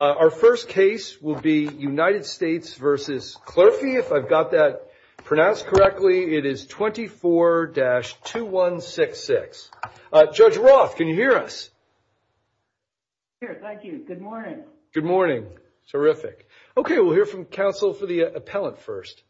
Our first case will be United States v. Clerfe, if I've got that pronounced correctly. It is 24-2166. Judge Roth, can you hear us? Here, thank you. Good morning. Good morning. Terrific. Okay, we'll hear from counsel for the appellant first.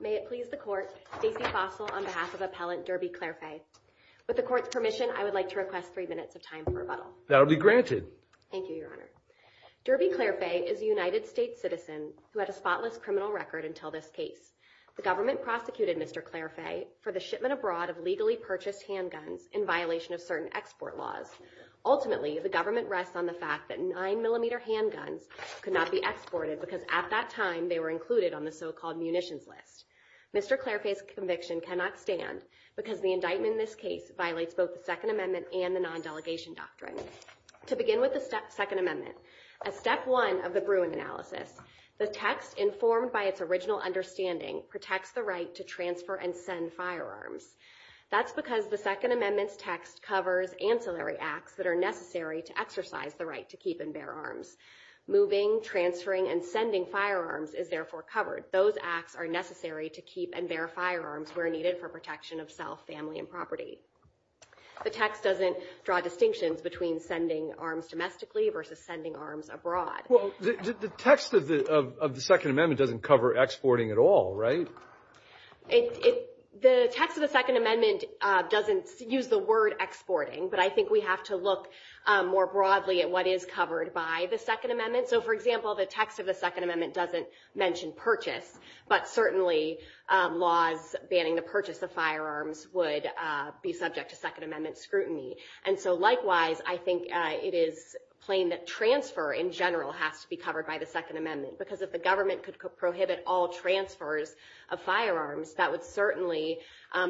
May it please the court, Stacey Fossil on behalf of Appellant Derby Clerfe. With the court's permission, I would like to request three minutes of time for rebuttal. That will be granted. Thank you, Your Honor. Derby Clerfe is a United States citizen who had a spotless criminal record until this case. The government prosecuted Mr. Clerfe for the shipment abroad of legally purchased handguns in violation of certain export laws. Ultimately, the government rests on the fact that 9mm handguns could not be exported because at that time they were included on the so-called munitions list. Mr. Clerfe's conviction cannot stand because the indictment in this case violates both the Second Amendment and the non-delegation doctrine. To begin with the Second Amendment, as step one of the Bruin analysis, the text informed by its original understanding protects the right to transfer and send firearms. That's because the Second Amendment's text covers ancillary acts that are necessary to exercise the right to keep and bear arms. Moving, transferring, and sending firearms is therefore covered. Those acts are necessary to keep and bear firearms where needed for protection of self, family, and property. The text doesn't draw distinctions between sending arms domestically versus sending arms abroad. Well, the text of the Second Amendment doesn't cover exporting at all, right? The text of the Second Amendment doesn't use the word exporting, but I think we have to look more broadly at what is covered by the Second Amendment. So, for example, the text of the Second Amendment doesn't mention purchase, but certainly laws banning the purchase of firearms would be subject to Second Amendment scrutiny. And so, likewise, I think it is plain that transfer in general has to be covered by the Second Amendment, because if the government could prohibit all transfers of firearms, that would certainly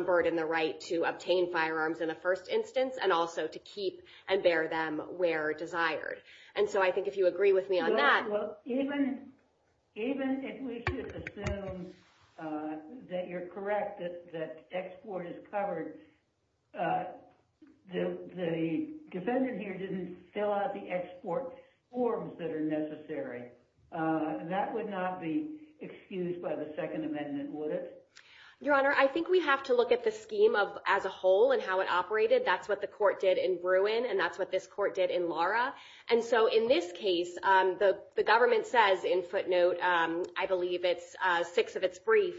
burden the right to obtain firearms in the first instance and also to keep and bear them where desired. Well, even if we should assume that you're correct that export is covered, the defendant here didn't fill out the export forms that are necessary. That would not be excused by the Second Amendment, would it? Your Honor, I think we have to look at the scheme as a whole and how it operated. That's what the court did in Bruin, and that's what this court did in Lara. And so, in this case, the government says in footnote, I believe it's six of its brief,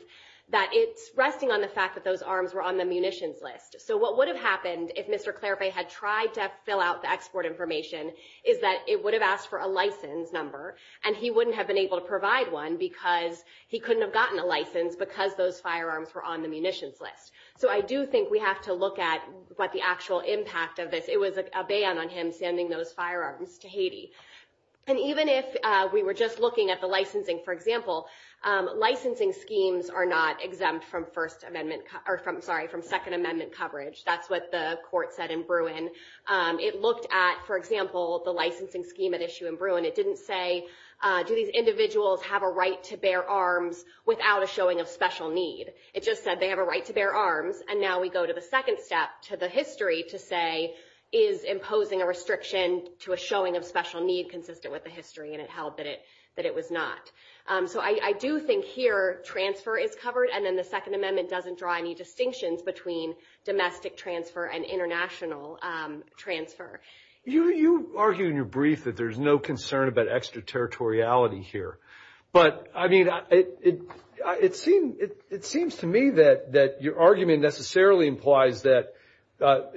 that it's resting on the fact that those arms were on the munitions list. So, what would have happened if Mr. Clairvay had tried to fill out the export information is that it would have asked for a license number, and he wouldn't have been able to provide one because he couldn't have gotten a license because those firearms were on the munitions list. So, I do think we have to look at what the actual impact of this. It was a ban on him sending those firearms to Haiti. And even if we were just looking at the licensing, for example, licensing schemes are not exempt from Second Amendment coverage. That's what the court said in Bruin. It looked at, for example, the licensing scheme at issue in Bruin. It didn't say, do these individuals have a right to bear arms without a showing of special need? It just said they have a right to bear arms, and now we go to the second step to the history to say, is imposing a restriction to a showing of special need consistent with the history? And it held that it was not. So, I do think here transfer is covered, and then the Second Amendment doesn't draw any distinctions between domestic transfer and international transfer. You argue in your brief that there's no concern about extraterritoriality here. But, I mean, it seems to me that your argument necessarily implies that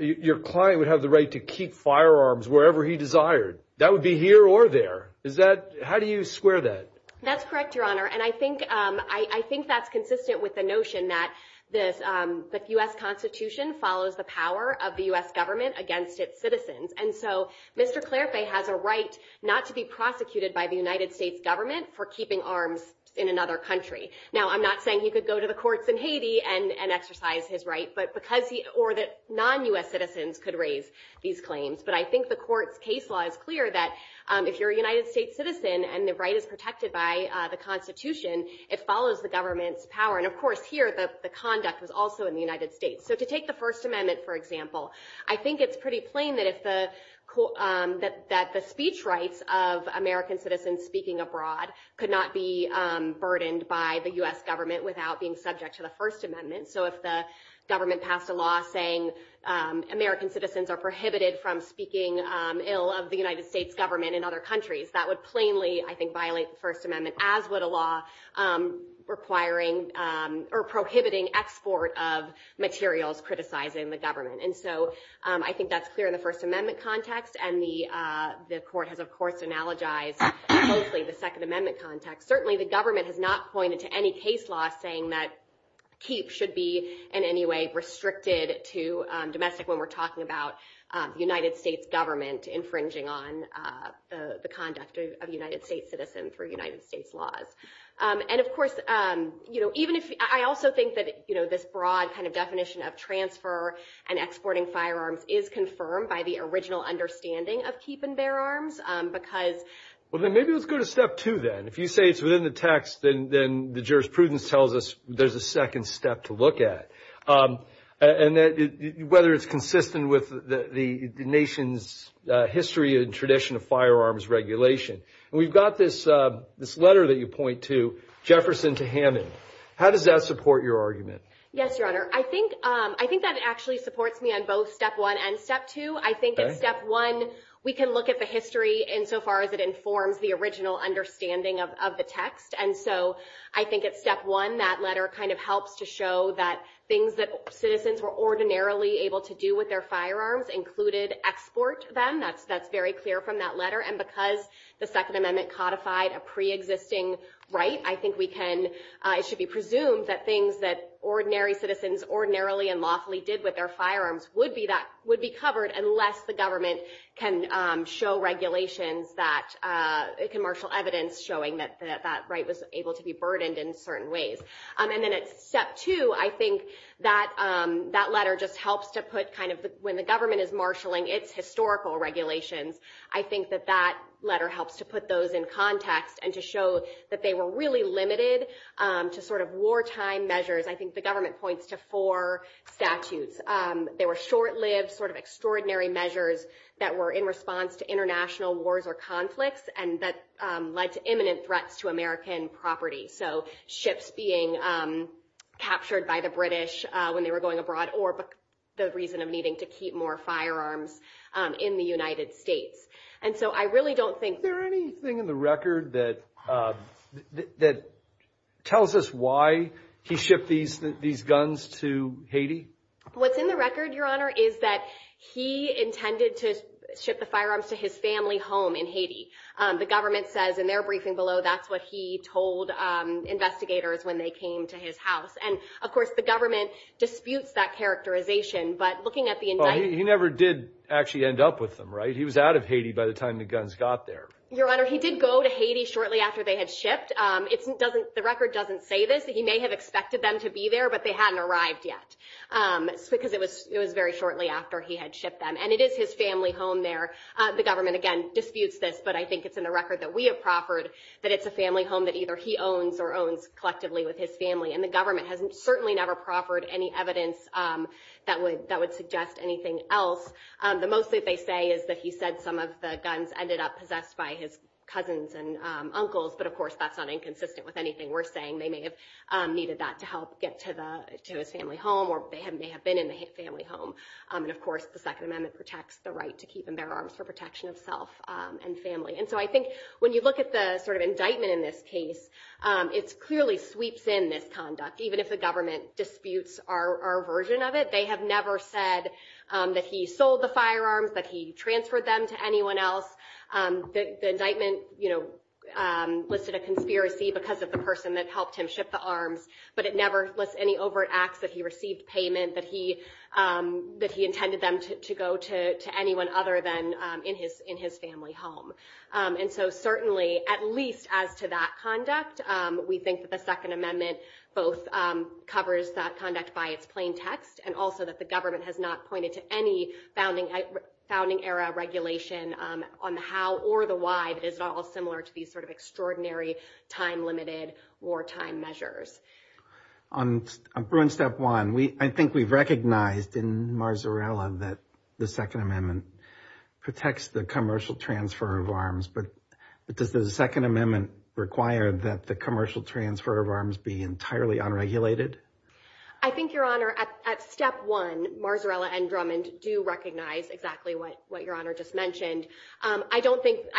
your client would have the right to keep firearms wherever he desired. That would be here or there. How do you square that? That's correct, Your Honor. And I think that's consistent with the notion that the U.S. Constitution follows the power of the U.S. government against its citizens. And so Mr. Clairefe has a right not to be prosecuted by the United States government for keeping arms in another country. Now, I'm not saying he could go to the courts in Haiti and exercise his right, or that non-U.S. citizens could raise these claims. But I think the court's case law is clear that if you're a United States citizen and the right is protected by the Constitution, it follows the government's power. And, of course, here the conduct was also in the United States. So to take the First Amendment, for example, I think it's pretty plain that the speech rights of American citizens speaking abroad could not be burdened by the U.S. government without being subject to the First Amendment. So if the government passed a law saying American citizens are prohibited from speaking ill of the United States government in other countries, that would plainly, I think, violate the First Amendment, as would a law prohibiting export of materials criticizing the government. And so I think that's clear in the First Amendment context. And the court has, of course, analogized mostly the Second Amendment context. Certainly, the government has not pointed to any case law saying that keep should be in any way restricted to domestic when we're talking about the United States government infringing on the conduct of a United States citizen through United States laws. And, of course, I also think that this broad kind of definition of transfer and exporting firearms is confirmed by the original understanding of keep and bear arms. Well, then maybe let's go to step two, then. If you say it's within the text, then the jurisprudence tells us there's a second step to look at, whether it's consistent with the nation's history and tradition of firearms regulation. And we've got this letter that you point to, Jefferson to Hammond. How does that support your argument? Yes, Your Honor. I think that it actually supports me on both step one and step two. I think in step one, we can look at the history insofar as it informs the original understanding of the text. And so I think at step one, that letter kind of helps to show that things that citizens were ordinarily able to do with their firearms included export them. That's very clear from that letter. And because the Second Amendment codified a pre-existing right, I think it should be presumed that things that ordinary citizens ordinarily and lawfully did with their firearms would be covered, unless the government can marshal evidence showing that that right was able to be burdened in certain ways. And then at step two, I think that letter just helps to put kind of when the government is marshaling its historical regulations, I think that that letter helps to put those in context and to show that they were really limited to sort of wartime measures. I think the government points to four statutes. They were short-lived, sort of extraordinary measures that were in response to international wars or conflicts and that led to imminent threats to American property. So ships being captured by the British when they were going abroad or the reason of needing to keep more firearms in the United States. And so I really don't think- Is there anything in the record that tells us why he shipped these guns to Haiti? What's in the record, Your Honor, is that he intended to ship the firearms to his family home in Haiti. The government says in their briefing below that's what he told investigators when they came to his house. And, of course, the government disputes that characterization. But looking at the indictment- He never did actually end up with them, right? He was out of Haiti by the time the guns got there. Your Honor, he did go to Haiti shortly after they had shipped. The record doesn't say this. He may have expected them to be there, but they hadn't arrived yet because it was very shortly after he had shipped them. And it is his family home there. The government, again, disputes this. But I think it's in the record that we have proffered that it's a family home that either he owns or owns collectively with his family. And the government has certainly never proffered any evidence that would suggest anything else. The most that they say is that he said some of the guns ended up possessed by his cousins and uncles. But, of course, that's not inconsistent with anything we're saying. They may have needed that to help get to his family home or they may have been in the family home. And, of course, the Second Amendment protects the right to keep and bear arms for protection of self and family. And so I think when you look at the sort of indictment in this case, it clearly sweeps in this conduct. Even if the government disputes our version of it, they have never said that he sold the firearms, that he transferred them to anyone else. The indictment listed a conspiracy because of the person that helped him ship the arms. But it never lists any overt acts that he received payment, that he intended them to go to anyone other than in his family home. And so certainly, at least as to that conduct, we think that the Second Amendment both covers that conduct by its plain text and also that the government has not pointed to any founding era regulation on the how or the why that is at all similar to these sort of extraordinary time-limited wartime measures. On Step 1, I think we've recognized in Marzarella that the Second Amendment protects the commercial transfer of arms. But does the Second Amendment require that the commercial transfer of arms be entirely unregulated? I think, Your Honor, at Step 1, Marzarella and Drummond do recognize exactly what Your Honor just mentioned. I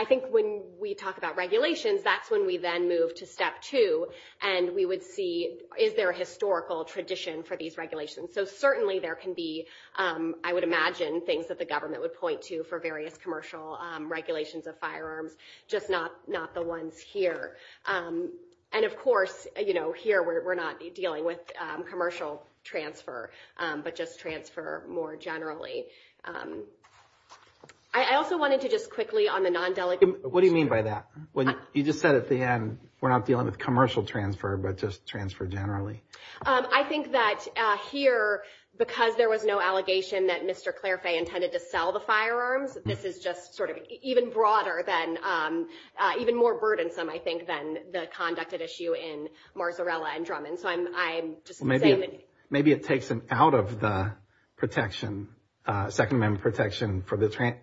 think when we talk about regulations, that's when we then move to Step 2. And we would see, is there a historical tradition for these regulations? So certainly, there can be, I would imagine, things that the government would point to for various commercial regulations of firearms, just not the ones here. And of course, here we're not dealing with commercial transfer, but just transfer more generally. I also wanted to just quickly on the non-delegation. What do you mean by that? You just said at the end, we're not dealing with commercial transfer, but just transfer generally. I think that here, because there was no allegation that Mr. Clairfay intended to sell the firearms, this is just sort of even broader than, even more burdensome, I think, than the conducted issue in Marzarella and Drummond. Maybe it takes him out of the protection, Second Amendment protection for the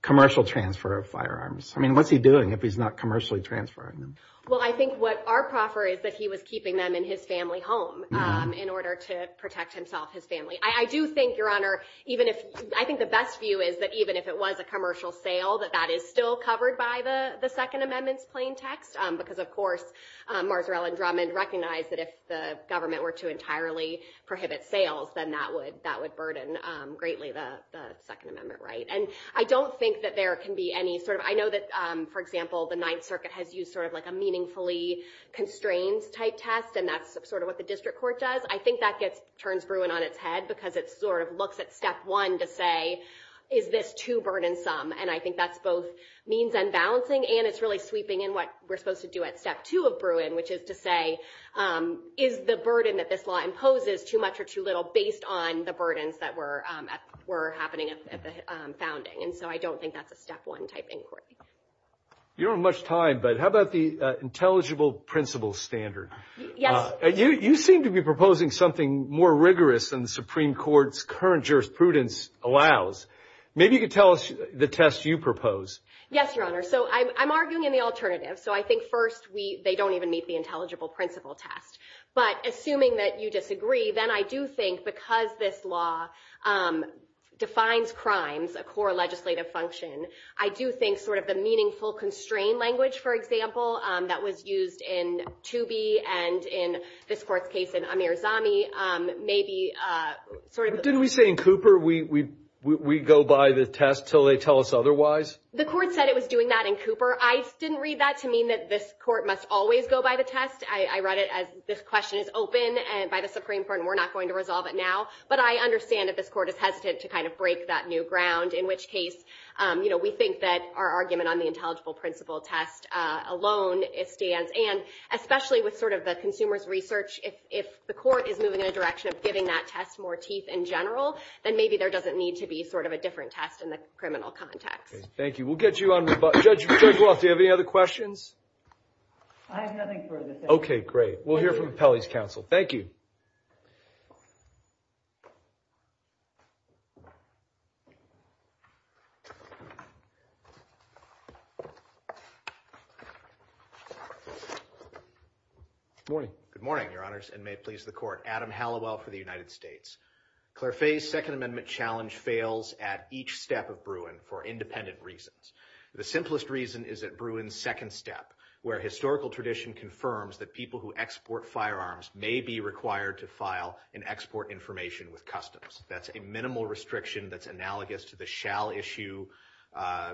commercial transfer of firearms. I mean, what's he doing if he's not commercially transferring them? Well, I think what our proffer is that he was keeping them in his family home in order to protect himself, his family. I do think, Your Honor, even if, I think the best view is that even if it was a commercial sale, that that is still covered by the Second Amendment's plain text. Because, of course, Marzarella and Drummond recognized that if the government were to entirely prohibit sales, then that would burden greatly the Second Amendment right. And I don't think that there can be any sort of, I know that, for example, the Ninth Circuit has used sort of like a meaningfully constrained type test, and that's sort of what the district court does. I think that turns Bruin on its head because it sort of looks at step one to say, is this too burdensome? And I think that's both means unbalancing and it's really sweeping in what we're supposed to do at step two of Bruin, which is to say, is the burden that this law imposes too much or too little based on the burdens that were happening at the founding? And so I don't think that's a step one type inquiry. You don't have much time, but how about the intelligible principle standard? Yes. You seem to be proposing something more rigorous than the Supreme Court's current jurisprudence allows. Maybe you could tell us the test you propose. Yes, Your Honor. So I'm arguing in the alternative. So I think first they don't even meet the intelligible principle test. But assuming that you disagree, then I do think because this law defines crimes, a core legislative function, I do think sort of the meaningful constrained language, for example, that was used in Toobie and in this court's case in Amirzami, Didn't we say in Cooper we go by the test until they tell us otherwise? The court said it was doing that in Cooper. I didn't read that to mean that this court must always go by the test. I read it as this question is open and by the Supreme Court and we're not going to resolve it now. But I understand that this court is hesitant to kind of break that new ground, in which case we think that our argument on the intelligible principle test alone stands. And especially with sort of the consumer's research, if the court is moving in a direction of giving that test more teeth in general, then maybe there doesn't need to be sort of a different test in the criminal context. Thank you. We'll get you on. Judge Roth, do you have any other questions? I have nothing further. Okay, great. We'll hear from the Pelley's counsel. Thank you. Good morning. Good morning, Your Honors, and may it please the court. Adam Hallowell for the United States. Claire Fay's Second Amendment challenge fails at each step of Bruin for independent reasons. The simplest reason is at Bruin's second step, where historical tradition confirms that people who export firearms may be required to file and export information with customs. That's a minimal restriction that's analogous to the shall issue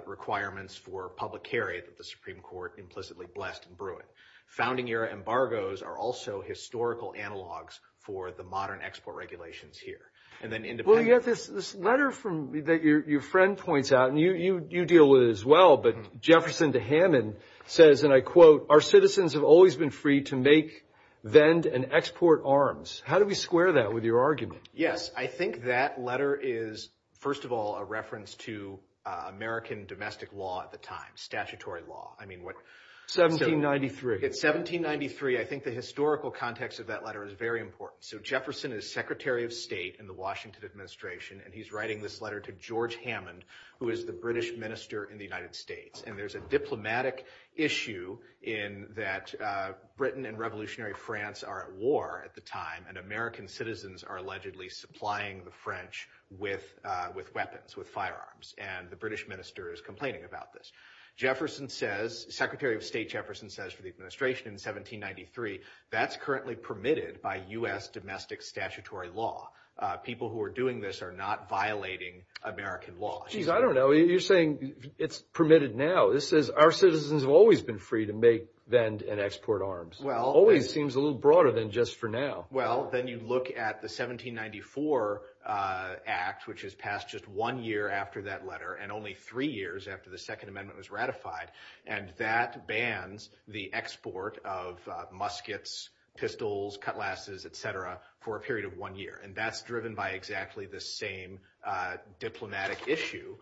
requirements for public carry that the Supreme Court implicitly blessed in Bruin. Founding-era embargoes are also historical analogs for the modern export regulations here. Well, you have this letter that your friend points out, and you deal with it as well. But Jefferson de Hammond says, and I quote, our citizens have always been free to make, vend, and export arms. How do we square that with your argument? Yes, I think that letter is, first of all, a reference to American domestic law at the time, statutory law. 1793. It's 1793. I think the historical context of that letter is very important. So Jefferson is Secretary of State in the Washington administration, and he's writing this letter to George Hammond, who is the British minister in the United States. And there's a diplomatic issue in that Britain and revolutionary France are at war at the time, and American citizens are allegedly supplying the French with weapons, with firearms. And the British minister is complaining about this. Jefferson says, Secretary of State Jefferson says for the administration in 1793, that's currently permitted by U.S. domestic statutory law. People who are doing this are not violating American law. Geez, I don't know. You're saying it's permitted now. This says our citizens have always been free to make, vend, and export arms. It always seems a little broader than just for now. Well, then you look at the 1794 Act, which is passed just one year after that letter and only three years after the Second Amendment was ratified, and that bans the export of muskets, pistols, cutlasses, et cetera, for a period of one year. And that's driven by exactly the same diplomatic issue,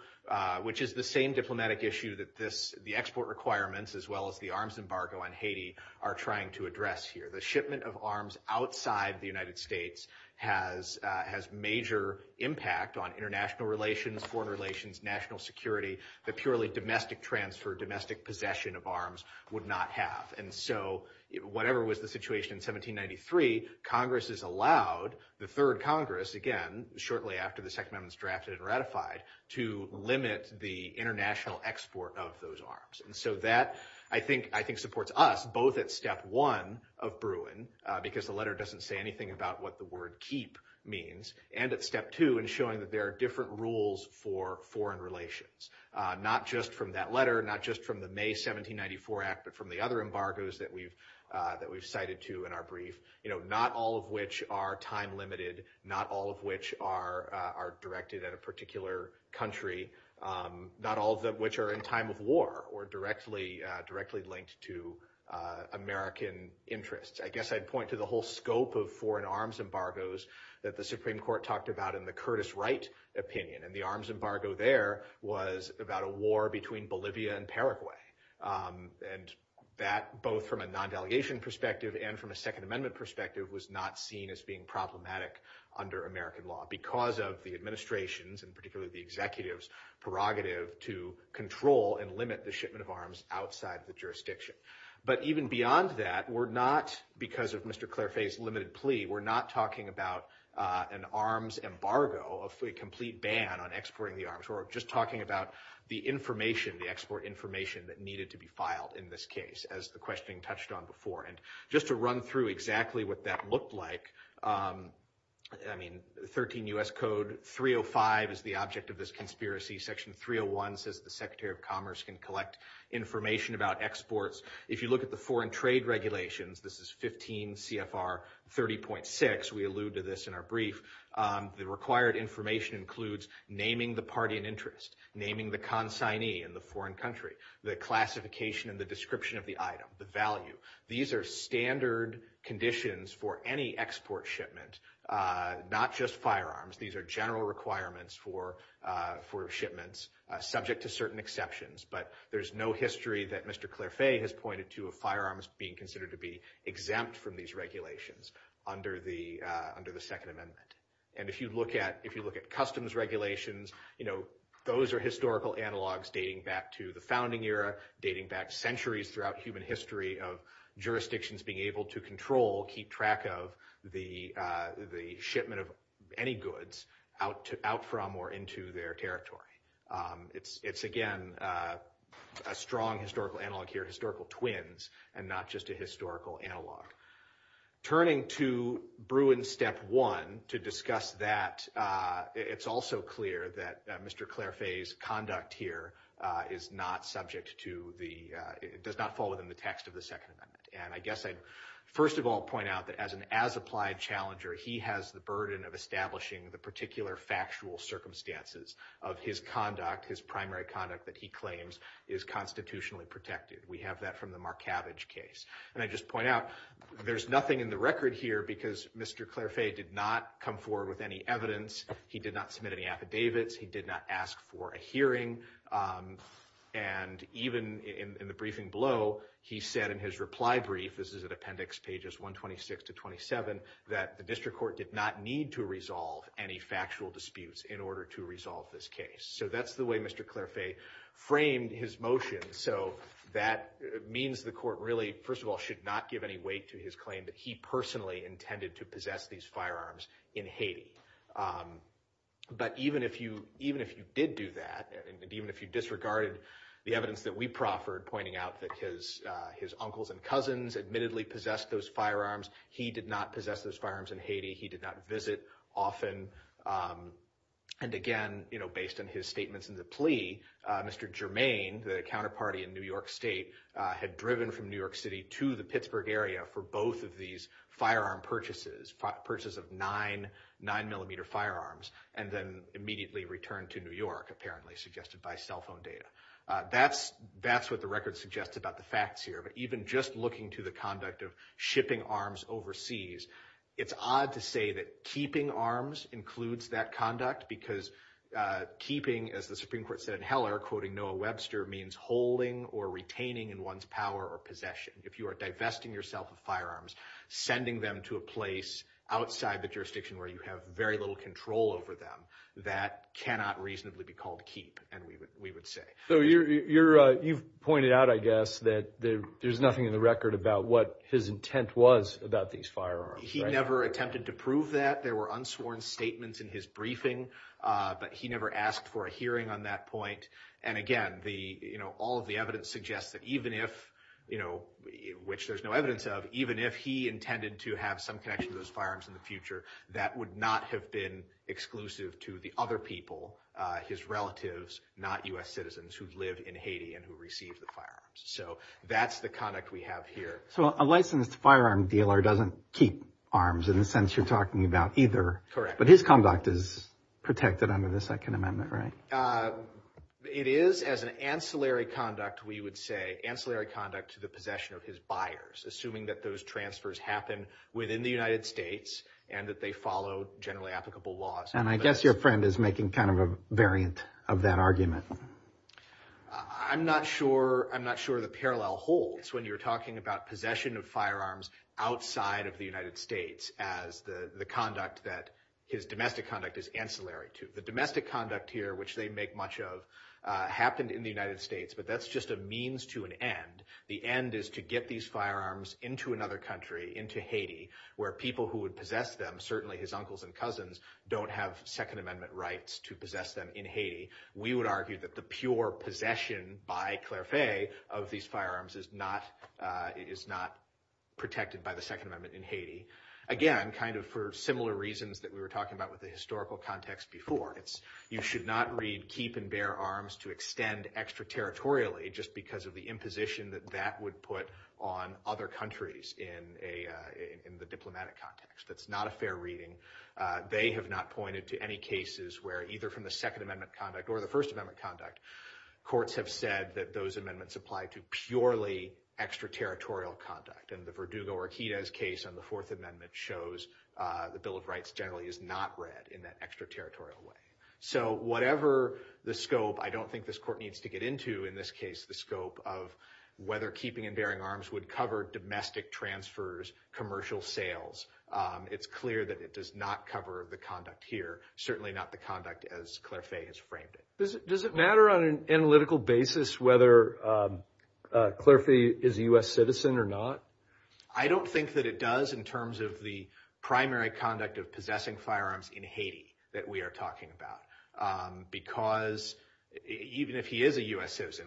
which is the same diplomatic issue that the export requirements, as well as the arms embargo on Haiti, are trying to address here. The shipment of arms outside the United States has major impact on international relations, foreign relations, national security, that purely domestic transfer, domestic possession of arms would not have. And so whatever was the situation in 1793, Congress has allowed the third Congress, again, shortly after the Second Amendment is drafted and ratified, to limit the international export of those arms. And so that, I think, supports us both at step one of Bruin, because the letter doesn't say anything about what the word keep means, and at step two in showing that there are different rules for foreign relations, not just from that letter, not just from the May 1794 Act, but from the other embargoes that we've cited, too, in our brief, not all of which are time-limited, not all of which are directed at a particular country, not all of which are in time of war or directly linked to American interests. I guess I'd point to the whole scope of foreign arms embargoes that the Supreme Court talked about in the Curtis Wright opinion, and the arms embargo there was about a war between Bolivia and Paraguay. And that, both from a non-delegation perspective and from a Second Amendment perspective, was not seen as being problematic under American law because of the administration's, and particularly the executive's, prerogative to control and limit the shipment of arms outside the jurisdiction. But even beyond that, we're not, because of Mr. Claire Faye's limited plea, we're not talking about an arms embargo, a complete ban on exporting the arms. We're just talking about the information, the export information that needed to be filed in this case, as the questioning touched on before. And just to run through exactly what that looked like, I mean, 13 U.S. Code 305 is the object of this conspiracy. Section 301 says the Secretary of Commerce can collect information about exports. If you look at the foreign trade regulations, this is 15 CFR 30.6, we allude to this in our brief. The required information includes naming the party in interest, naming the consignee in the foreign country, the classification and the description of the item, the value. These are standard conditions for any export shipment, not just firearms. These are general requirements for shipments, subject to certain exceptions. But there's no history that Mr. Claire Faye has pointed to of firearms being considered to be exempt from these regulations under the Second Amendment. And if you look at customs regulations, you know, those are historical analogs dating back to the founding era, dating back centuries throughout human history of jurisdictions being able to control, keep track of the shipment of any goods out from or into their territory. It's, again, a strong historical analog here, historical twins, and not just a historical analog. Turning to Bruin Step 1 to discuss that, it's also clear that Mr. Claire Faye's conduct here is not subject to the, does not fall within the text of the Second Amendment. And I guess I'd first of all point out that as an as-applied challenger, he has the burden of establishing the particular factual circumstances of his conduct, his primary conduct that he claims is constitutionally protected. We have that from the Markavich case. And I just point out, there's nothing in the record here because Mr. Claire Faye did not come forward with any evidence. He did not submit any affidavits. He did not ask for a hearing. And even in the briefing below, he said in his reply brief, this is at appendix pages 126 to 27, that the district court did not need to resolve any factual disputes in order to resolve this case. So that's the way Mr. Claire Faye framed his motion. So that means the court really, first of all, should not give any weight to his claim that he personally intended to possess these firearms in Haiti. But even if you did do that, and even if you disregarded the evidence that we proffered, pointing out that his uncles and cousins admittedly possessed those firearms, he did not possess those firearms in Haiti. He did not visit often. And again, based on his statements in the plea, Mr. Germain, the counterparty in New York State, had driven from New York City to the Pittsburgh area for both of these firearm purchases, purchases of nine 9mm firearms, and then immediately returned to New York, apparently suggested by cell phone data. That's what the record suggests about the facts here. But even just looking to the conduct of shipping arms overseas, it's odd to say that keeping arms includes that conduct, because keeping, as the Supreme Court said in Heller, quoting Noah Webster, means holding or retaining in one's power or possession. If you are divesting yourself of firearms, sending them to a place outside the jurisdiction where you have very little control over them, that cannot reasonably be called keep, we would say. So you've pointed out, I guess, that there's nothing in the record about what his intent was about these firearms. He never attempted to prove that. There were unsworn statements in his briefing, but he never asked for a hearing on that point. And again, all of the evidence suggests that even if, which there's no evidence of, even if he intended to have some connection to those firearms in the future, that would not have been exclusive to the other people, his relatives, not U.S. citizens, who lived in Haiti and who received the firearms. So that's the conduct we have here. So a licensed firearm dealer doesn't keep arms in the sense you're talking about either. Correct. But his conduct is protected under the Second Amendment, right? It is as an ancillary conduct, we would say, ancillary conduct to the possession of his buyers, assuming that those transfers happen within the United States and that they follow generally applicable laws. And I guess your friend is making kind of a variant of that argument. I'm not sure, I'm not sure the parallel holds when you're talking about possession of firearms outside of the United States as the conduct that his domestic conduct is ancillary to. The domestic conduct here, which they make much of, happened in the United States, but that's just a means to an end. The end is to get these firearms into another country, into Haiti, where people who would possess them, certainly his uncles and cousins, don't have Second Amendment rights to possess them in Haiti. We would argue that the pure possession by Clairefeuille of these firearms is not protected by the Second Amendment in Haiti. Again, kind of for similar reasons that we were talking about with the historical context before, you should not read keep and bear arms to extend extraterritorially just because of the imposition that that would put on other countries in the diplomatic context. That's not a fair reading. They have not pointed to any cases where either from the Second Amendment conduct or the First Amendment conduct, courts have said that those amendments apply to purely extraterritorial conduct. And the Verdugo-Orquidez case on the Fourth Amendment shows the Bill of Rights generally is not read in that extraterritorial way. So whatever the scope, I don't think this court needs to get into, in this case, the scope of whether keeping and bearing arms would cover domestic transfers, commercial sales. It's clear that it does not cover the conduct here, certainly not the conduct as Clairefeuille has framed it. Does it matter on an analytical basis whether Clairefeuille is a U.S. citizen or not? I don't think that it does in terms of the primary conduct of possessing firearms in Haiti that we are talking about. Because even if he is a U.S. citizen,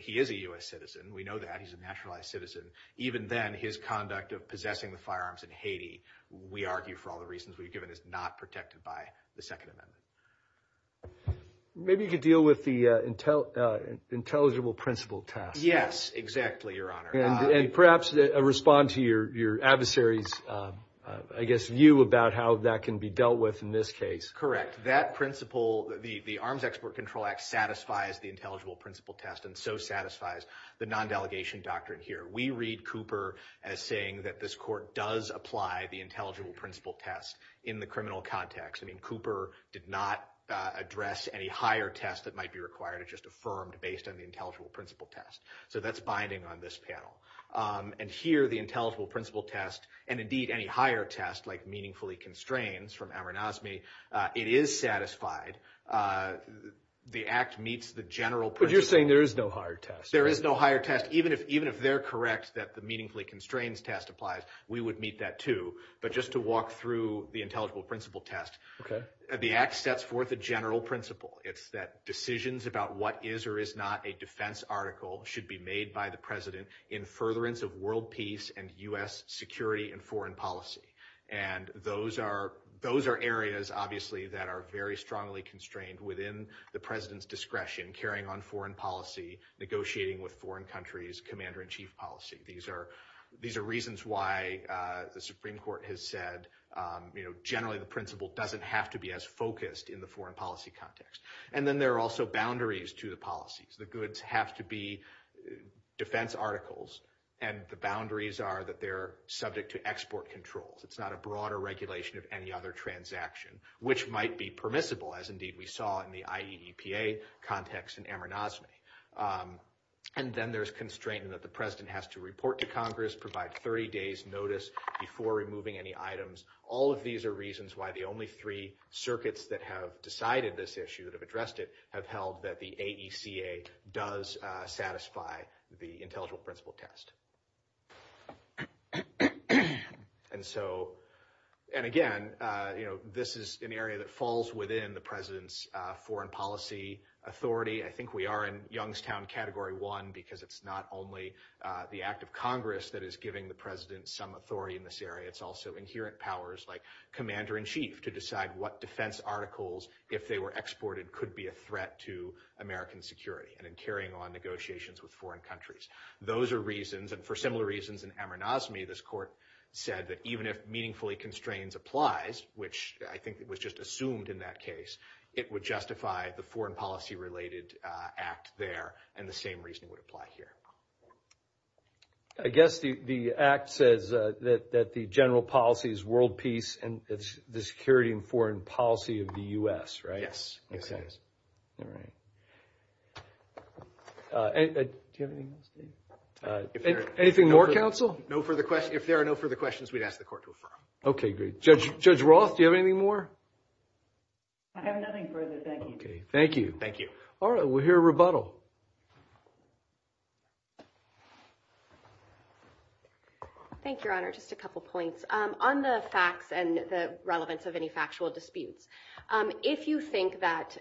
he is a U.S. citizen. We know that. He's a naturalized citizen. Even then, his conduct of possessing the firearms in Haiti, we argue for all the reasons we've given, is not protected by the Second Amendment. Maybe you could deal with the intelligible principle test. Yes, exactly, Your Honor. And perhaps respond to your adversary's, I guess, view about how that can be dealt with in this case. Correct. That principle, the Arms Export Control Act satisfies the intelligible principle test and so satisfies the non-delegation doctrine here. We read Cooper as saying that this court does apply the intelligible principle test in the criminal context. I mean, Cooper did not address any higher test that might be required. It just affirmed based on the intelligible principle test. So that's binding on this panel. And here, the intelligible principle test and, indeed, any higher test, like meaningfully constrains from Amornosmy, it is satisfied. The act meets the general principle. But you're saying there is no higher test. There is no higher test. Even if they're correct that the meaningfully constrains test applies, we would meet that, too. But just to walk through the intelligible principle test, the act sets forth a general principle. It's that decisions about what is or is not a defense article should be made by the president in furtherance of world peace and U.S. security and foreign policy. And those are areas, obviously, that are very strongly constrained within the president's discretion, carrying on foreign policy, negotiating with foreign countries, commander-in-chief policy. These are reasons why the Supreme Court has said generally the principle doesn't have to be as focused in the foreign policy context. And then there are also boundaries to the policies. The goods have to be defense articles, and the boundaries are that they're subject to export controls. It's not a broader regulation of any other transaction, which might be permissible, as, indeed, we saw in the IEEPA context in Amornosmy. And then there's constraint in that the president has to report to Congress, provide 30 days' notice before removing any items. All of these are reasons why the only three circuits that have decided this issue, that have addressed it, have held that the AECA does satisfy the intelligible principle test. And, again, this is an area that falls within the president's foreign policy authority. I think we are in Youngstown Category 1 because it's not only the act of Congress that is giving the president some authority in this area. It's also inherent powers like commander-in-chief to decide what defense articles, if they were exported, could be a threat to American security and in carrying on negotiations with foreign countries. Those are reasons, and for similar reasons in Amornosmy, this court said that even if meaningfully constraints applies, which I think was just assumed in that case, it would justify the foreign policy-related act there, and the same reasoning would apply here. I guess the act says that the general policy is world peace, and it's the security and foreign policy of the U.S., right? Yes. All right. Do you have anything else? Anything more, counsel? No further questions. If there are no further questions, we'd ask the court to affirm. Okay, great. Judge Roth, do you have anything more? I have nothing further. Thank you. Okay. Thank you. Thank you. All right. We'll hear a rebuttal. Thank you, Your Honor. Just a couple points. On the facts and the relevance of any factual disputes, if you think that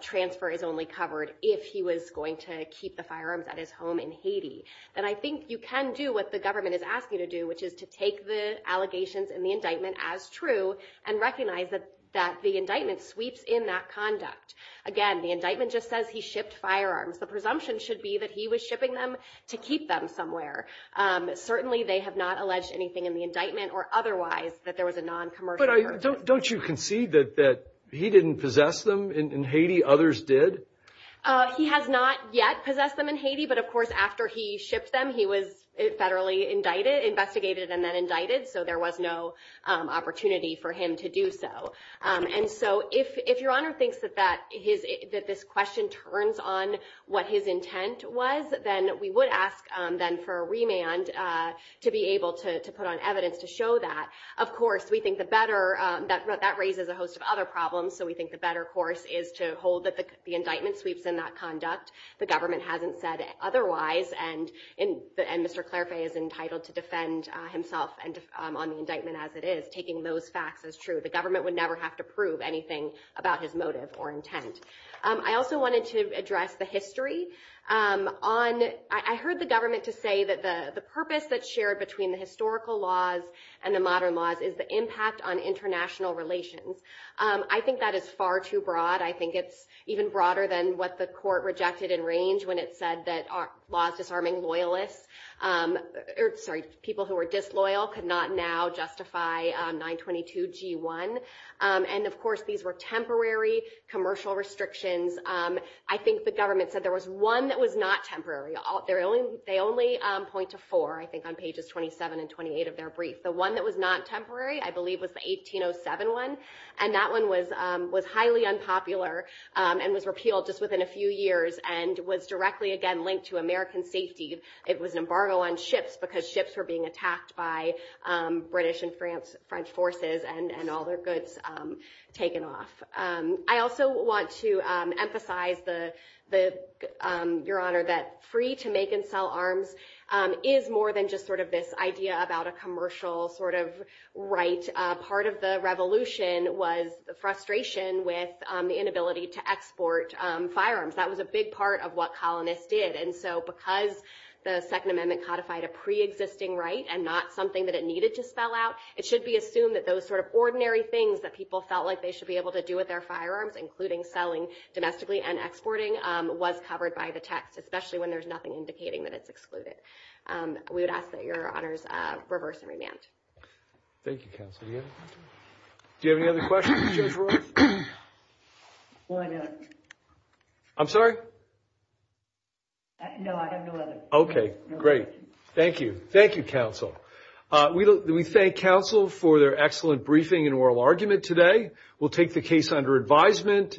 transfer is only covered if he was going to keep the firearms at his home in Haiti, then I think you can do what the government is asking you to do, which is to take the allegations in the indictment as true and recognize that the indictment sweeps in that conduct. Again, the indictment just says he shipped firearms. The presumption should be that he was shipping them to keep them somewhere. Certainly they have not alleged anything in the indictment or otherwise that there was a non-commercial relationship. But don't you concede that he didn't possess them in Haiti? Others did? He has not yet possessed them in Haiti, but, of course, after he shipped them, he was federally investigated and then indicted, so there was no opportunity for him to do so. If Your Honor thinks that this question turns on what his intent was, then we would ask for a remand to be able to put on evidence to show that. Of course, that raises a host of other problems, so we think the better course is to hold that the indictment sweeps in that conduct. The government hasn't said otherwise, and Mr. Clairfay is entitled to defend himself on the indictment as it is, taking those facts as true. The government would never have to prove anything about his motive or intent. I also wanted to address the history. I heard the government to say that the purpose that's shared between the historical laws and the modern laws is the impact on international relations. I think that is far too broad. I think it's even broader than what the court rejected in range when it said that people who were disloyal could not now justify 922 G1, and, of course, these were temporary commercial restrictions. I think the government said there was one that was not temporary. They only point to four, I think, on pages 27 and 28 of their brief. The one that was not temporary, I believe, was the 1807 one, and that one was highly unpopular and was repealed just within a few years and was directly, again, linked to American safety. It was an embargo on ships because ships were being attacked by British and French forces and all their goods taken off. I also want to emphasize, Your Honor, that free to make and sell arms is more than just sort of this idea about a commercial sort of right. Part of the revolution was the frustration with the inability to export firearms. That was a big part of what colonists did. And so because the Second Amendment codified a preexisting right and not something that it needed to spell out, it should be assumed that those sort of ordinary things that people felt like they should be able to do with their firearms, including selling domestically and exporting, was covered by the text, especially when there's nothing indicating that it's excluded. We would ask that Your Honors reverse and remand. Thank you, Counsel. Do you have any other questions for Judge Royce? Well, I don't. I'm sorry? No, I have no other questions. Okay, great. Thank you. Thank you, Counsel. We thank Counsel for their excellent briefing and oral argument today. We'll take the case under advisement.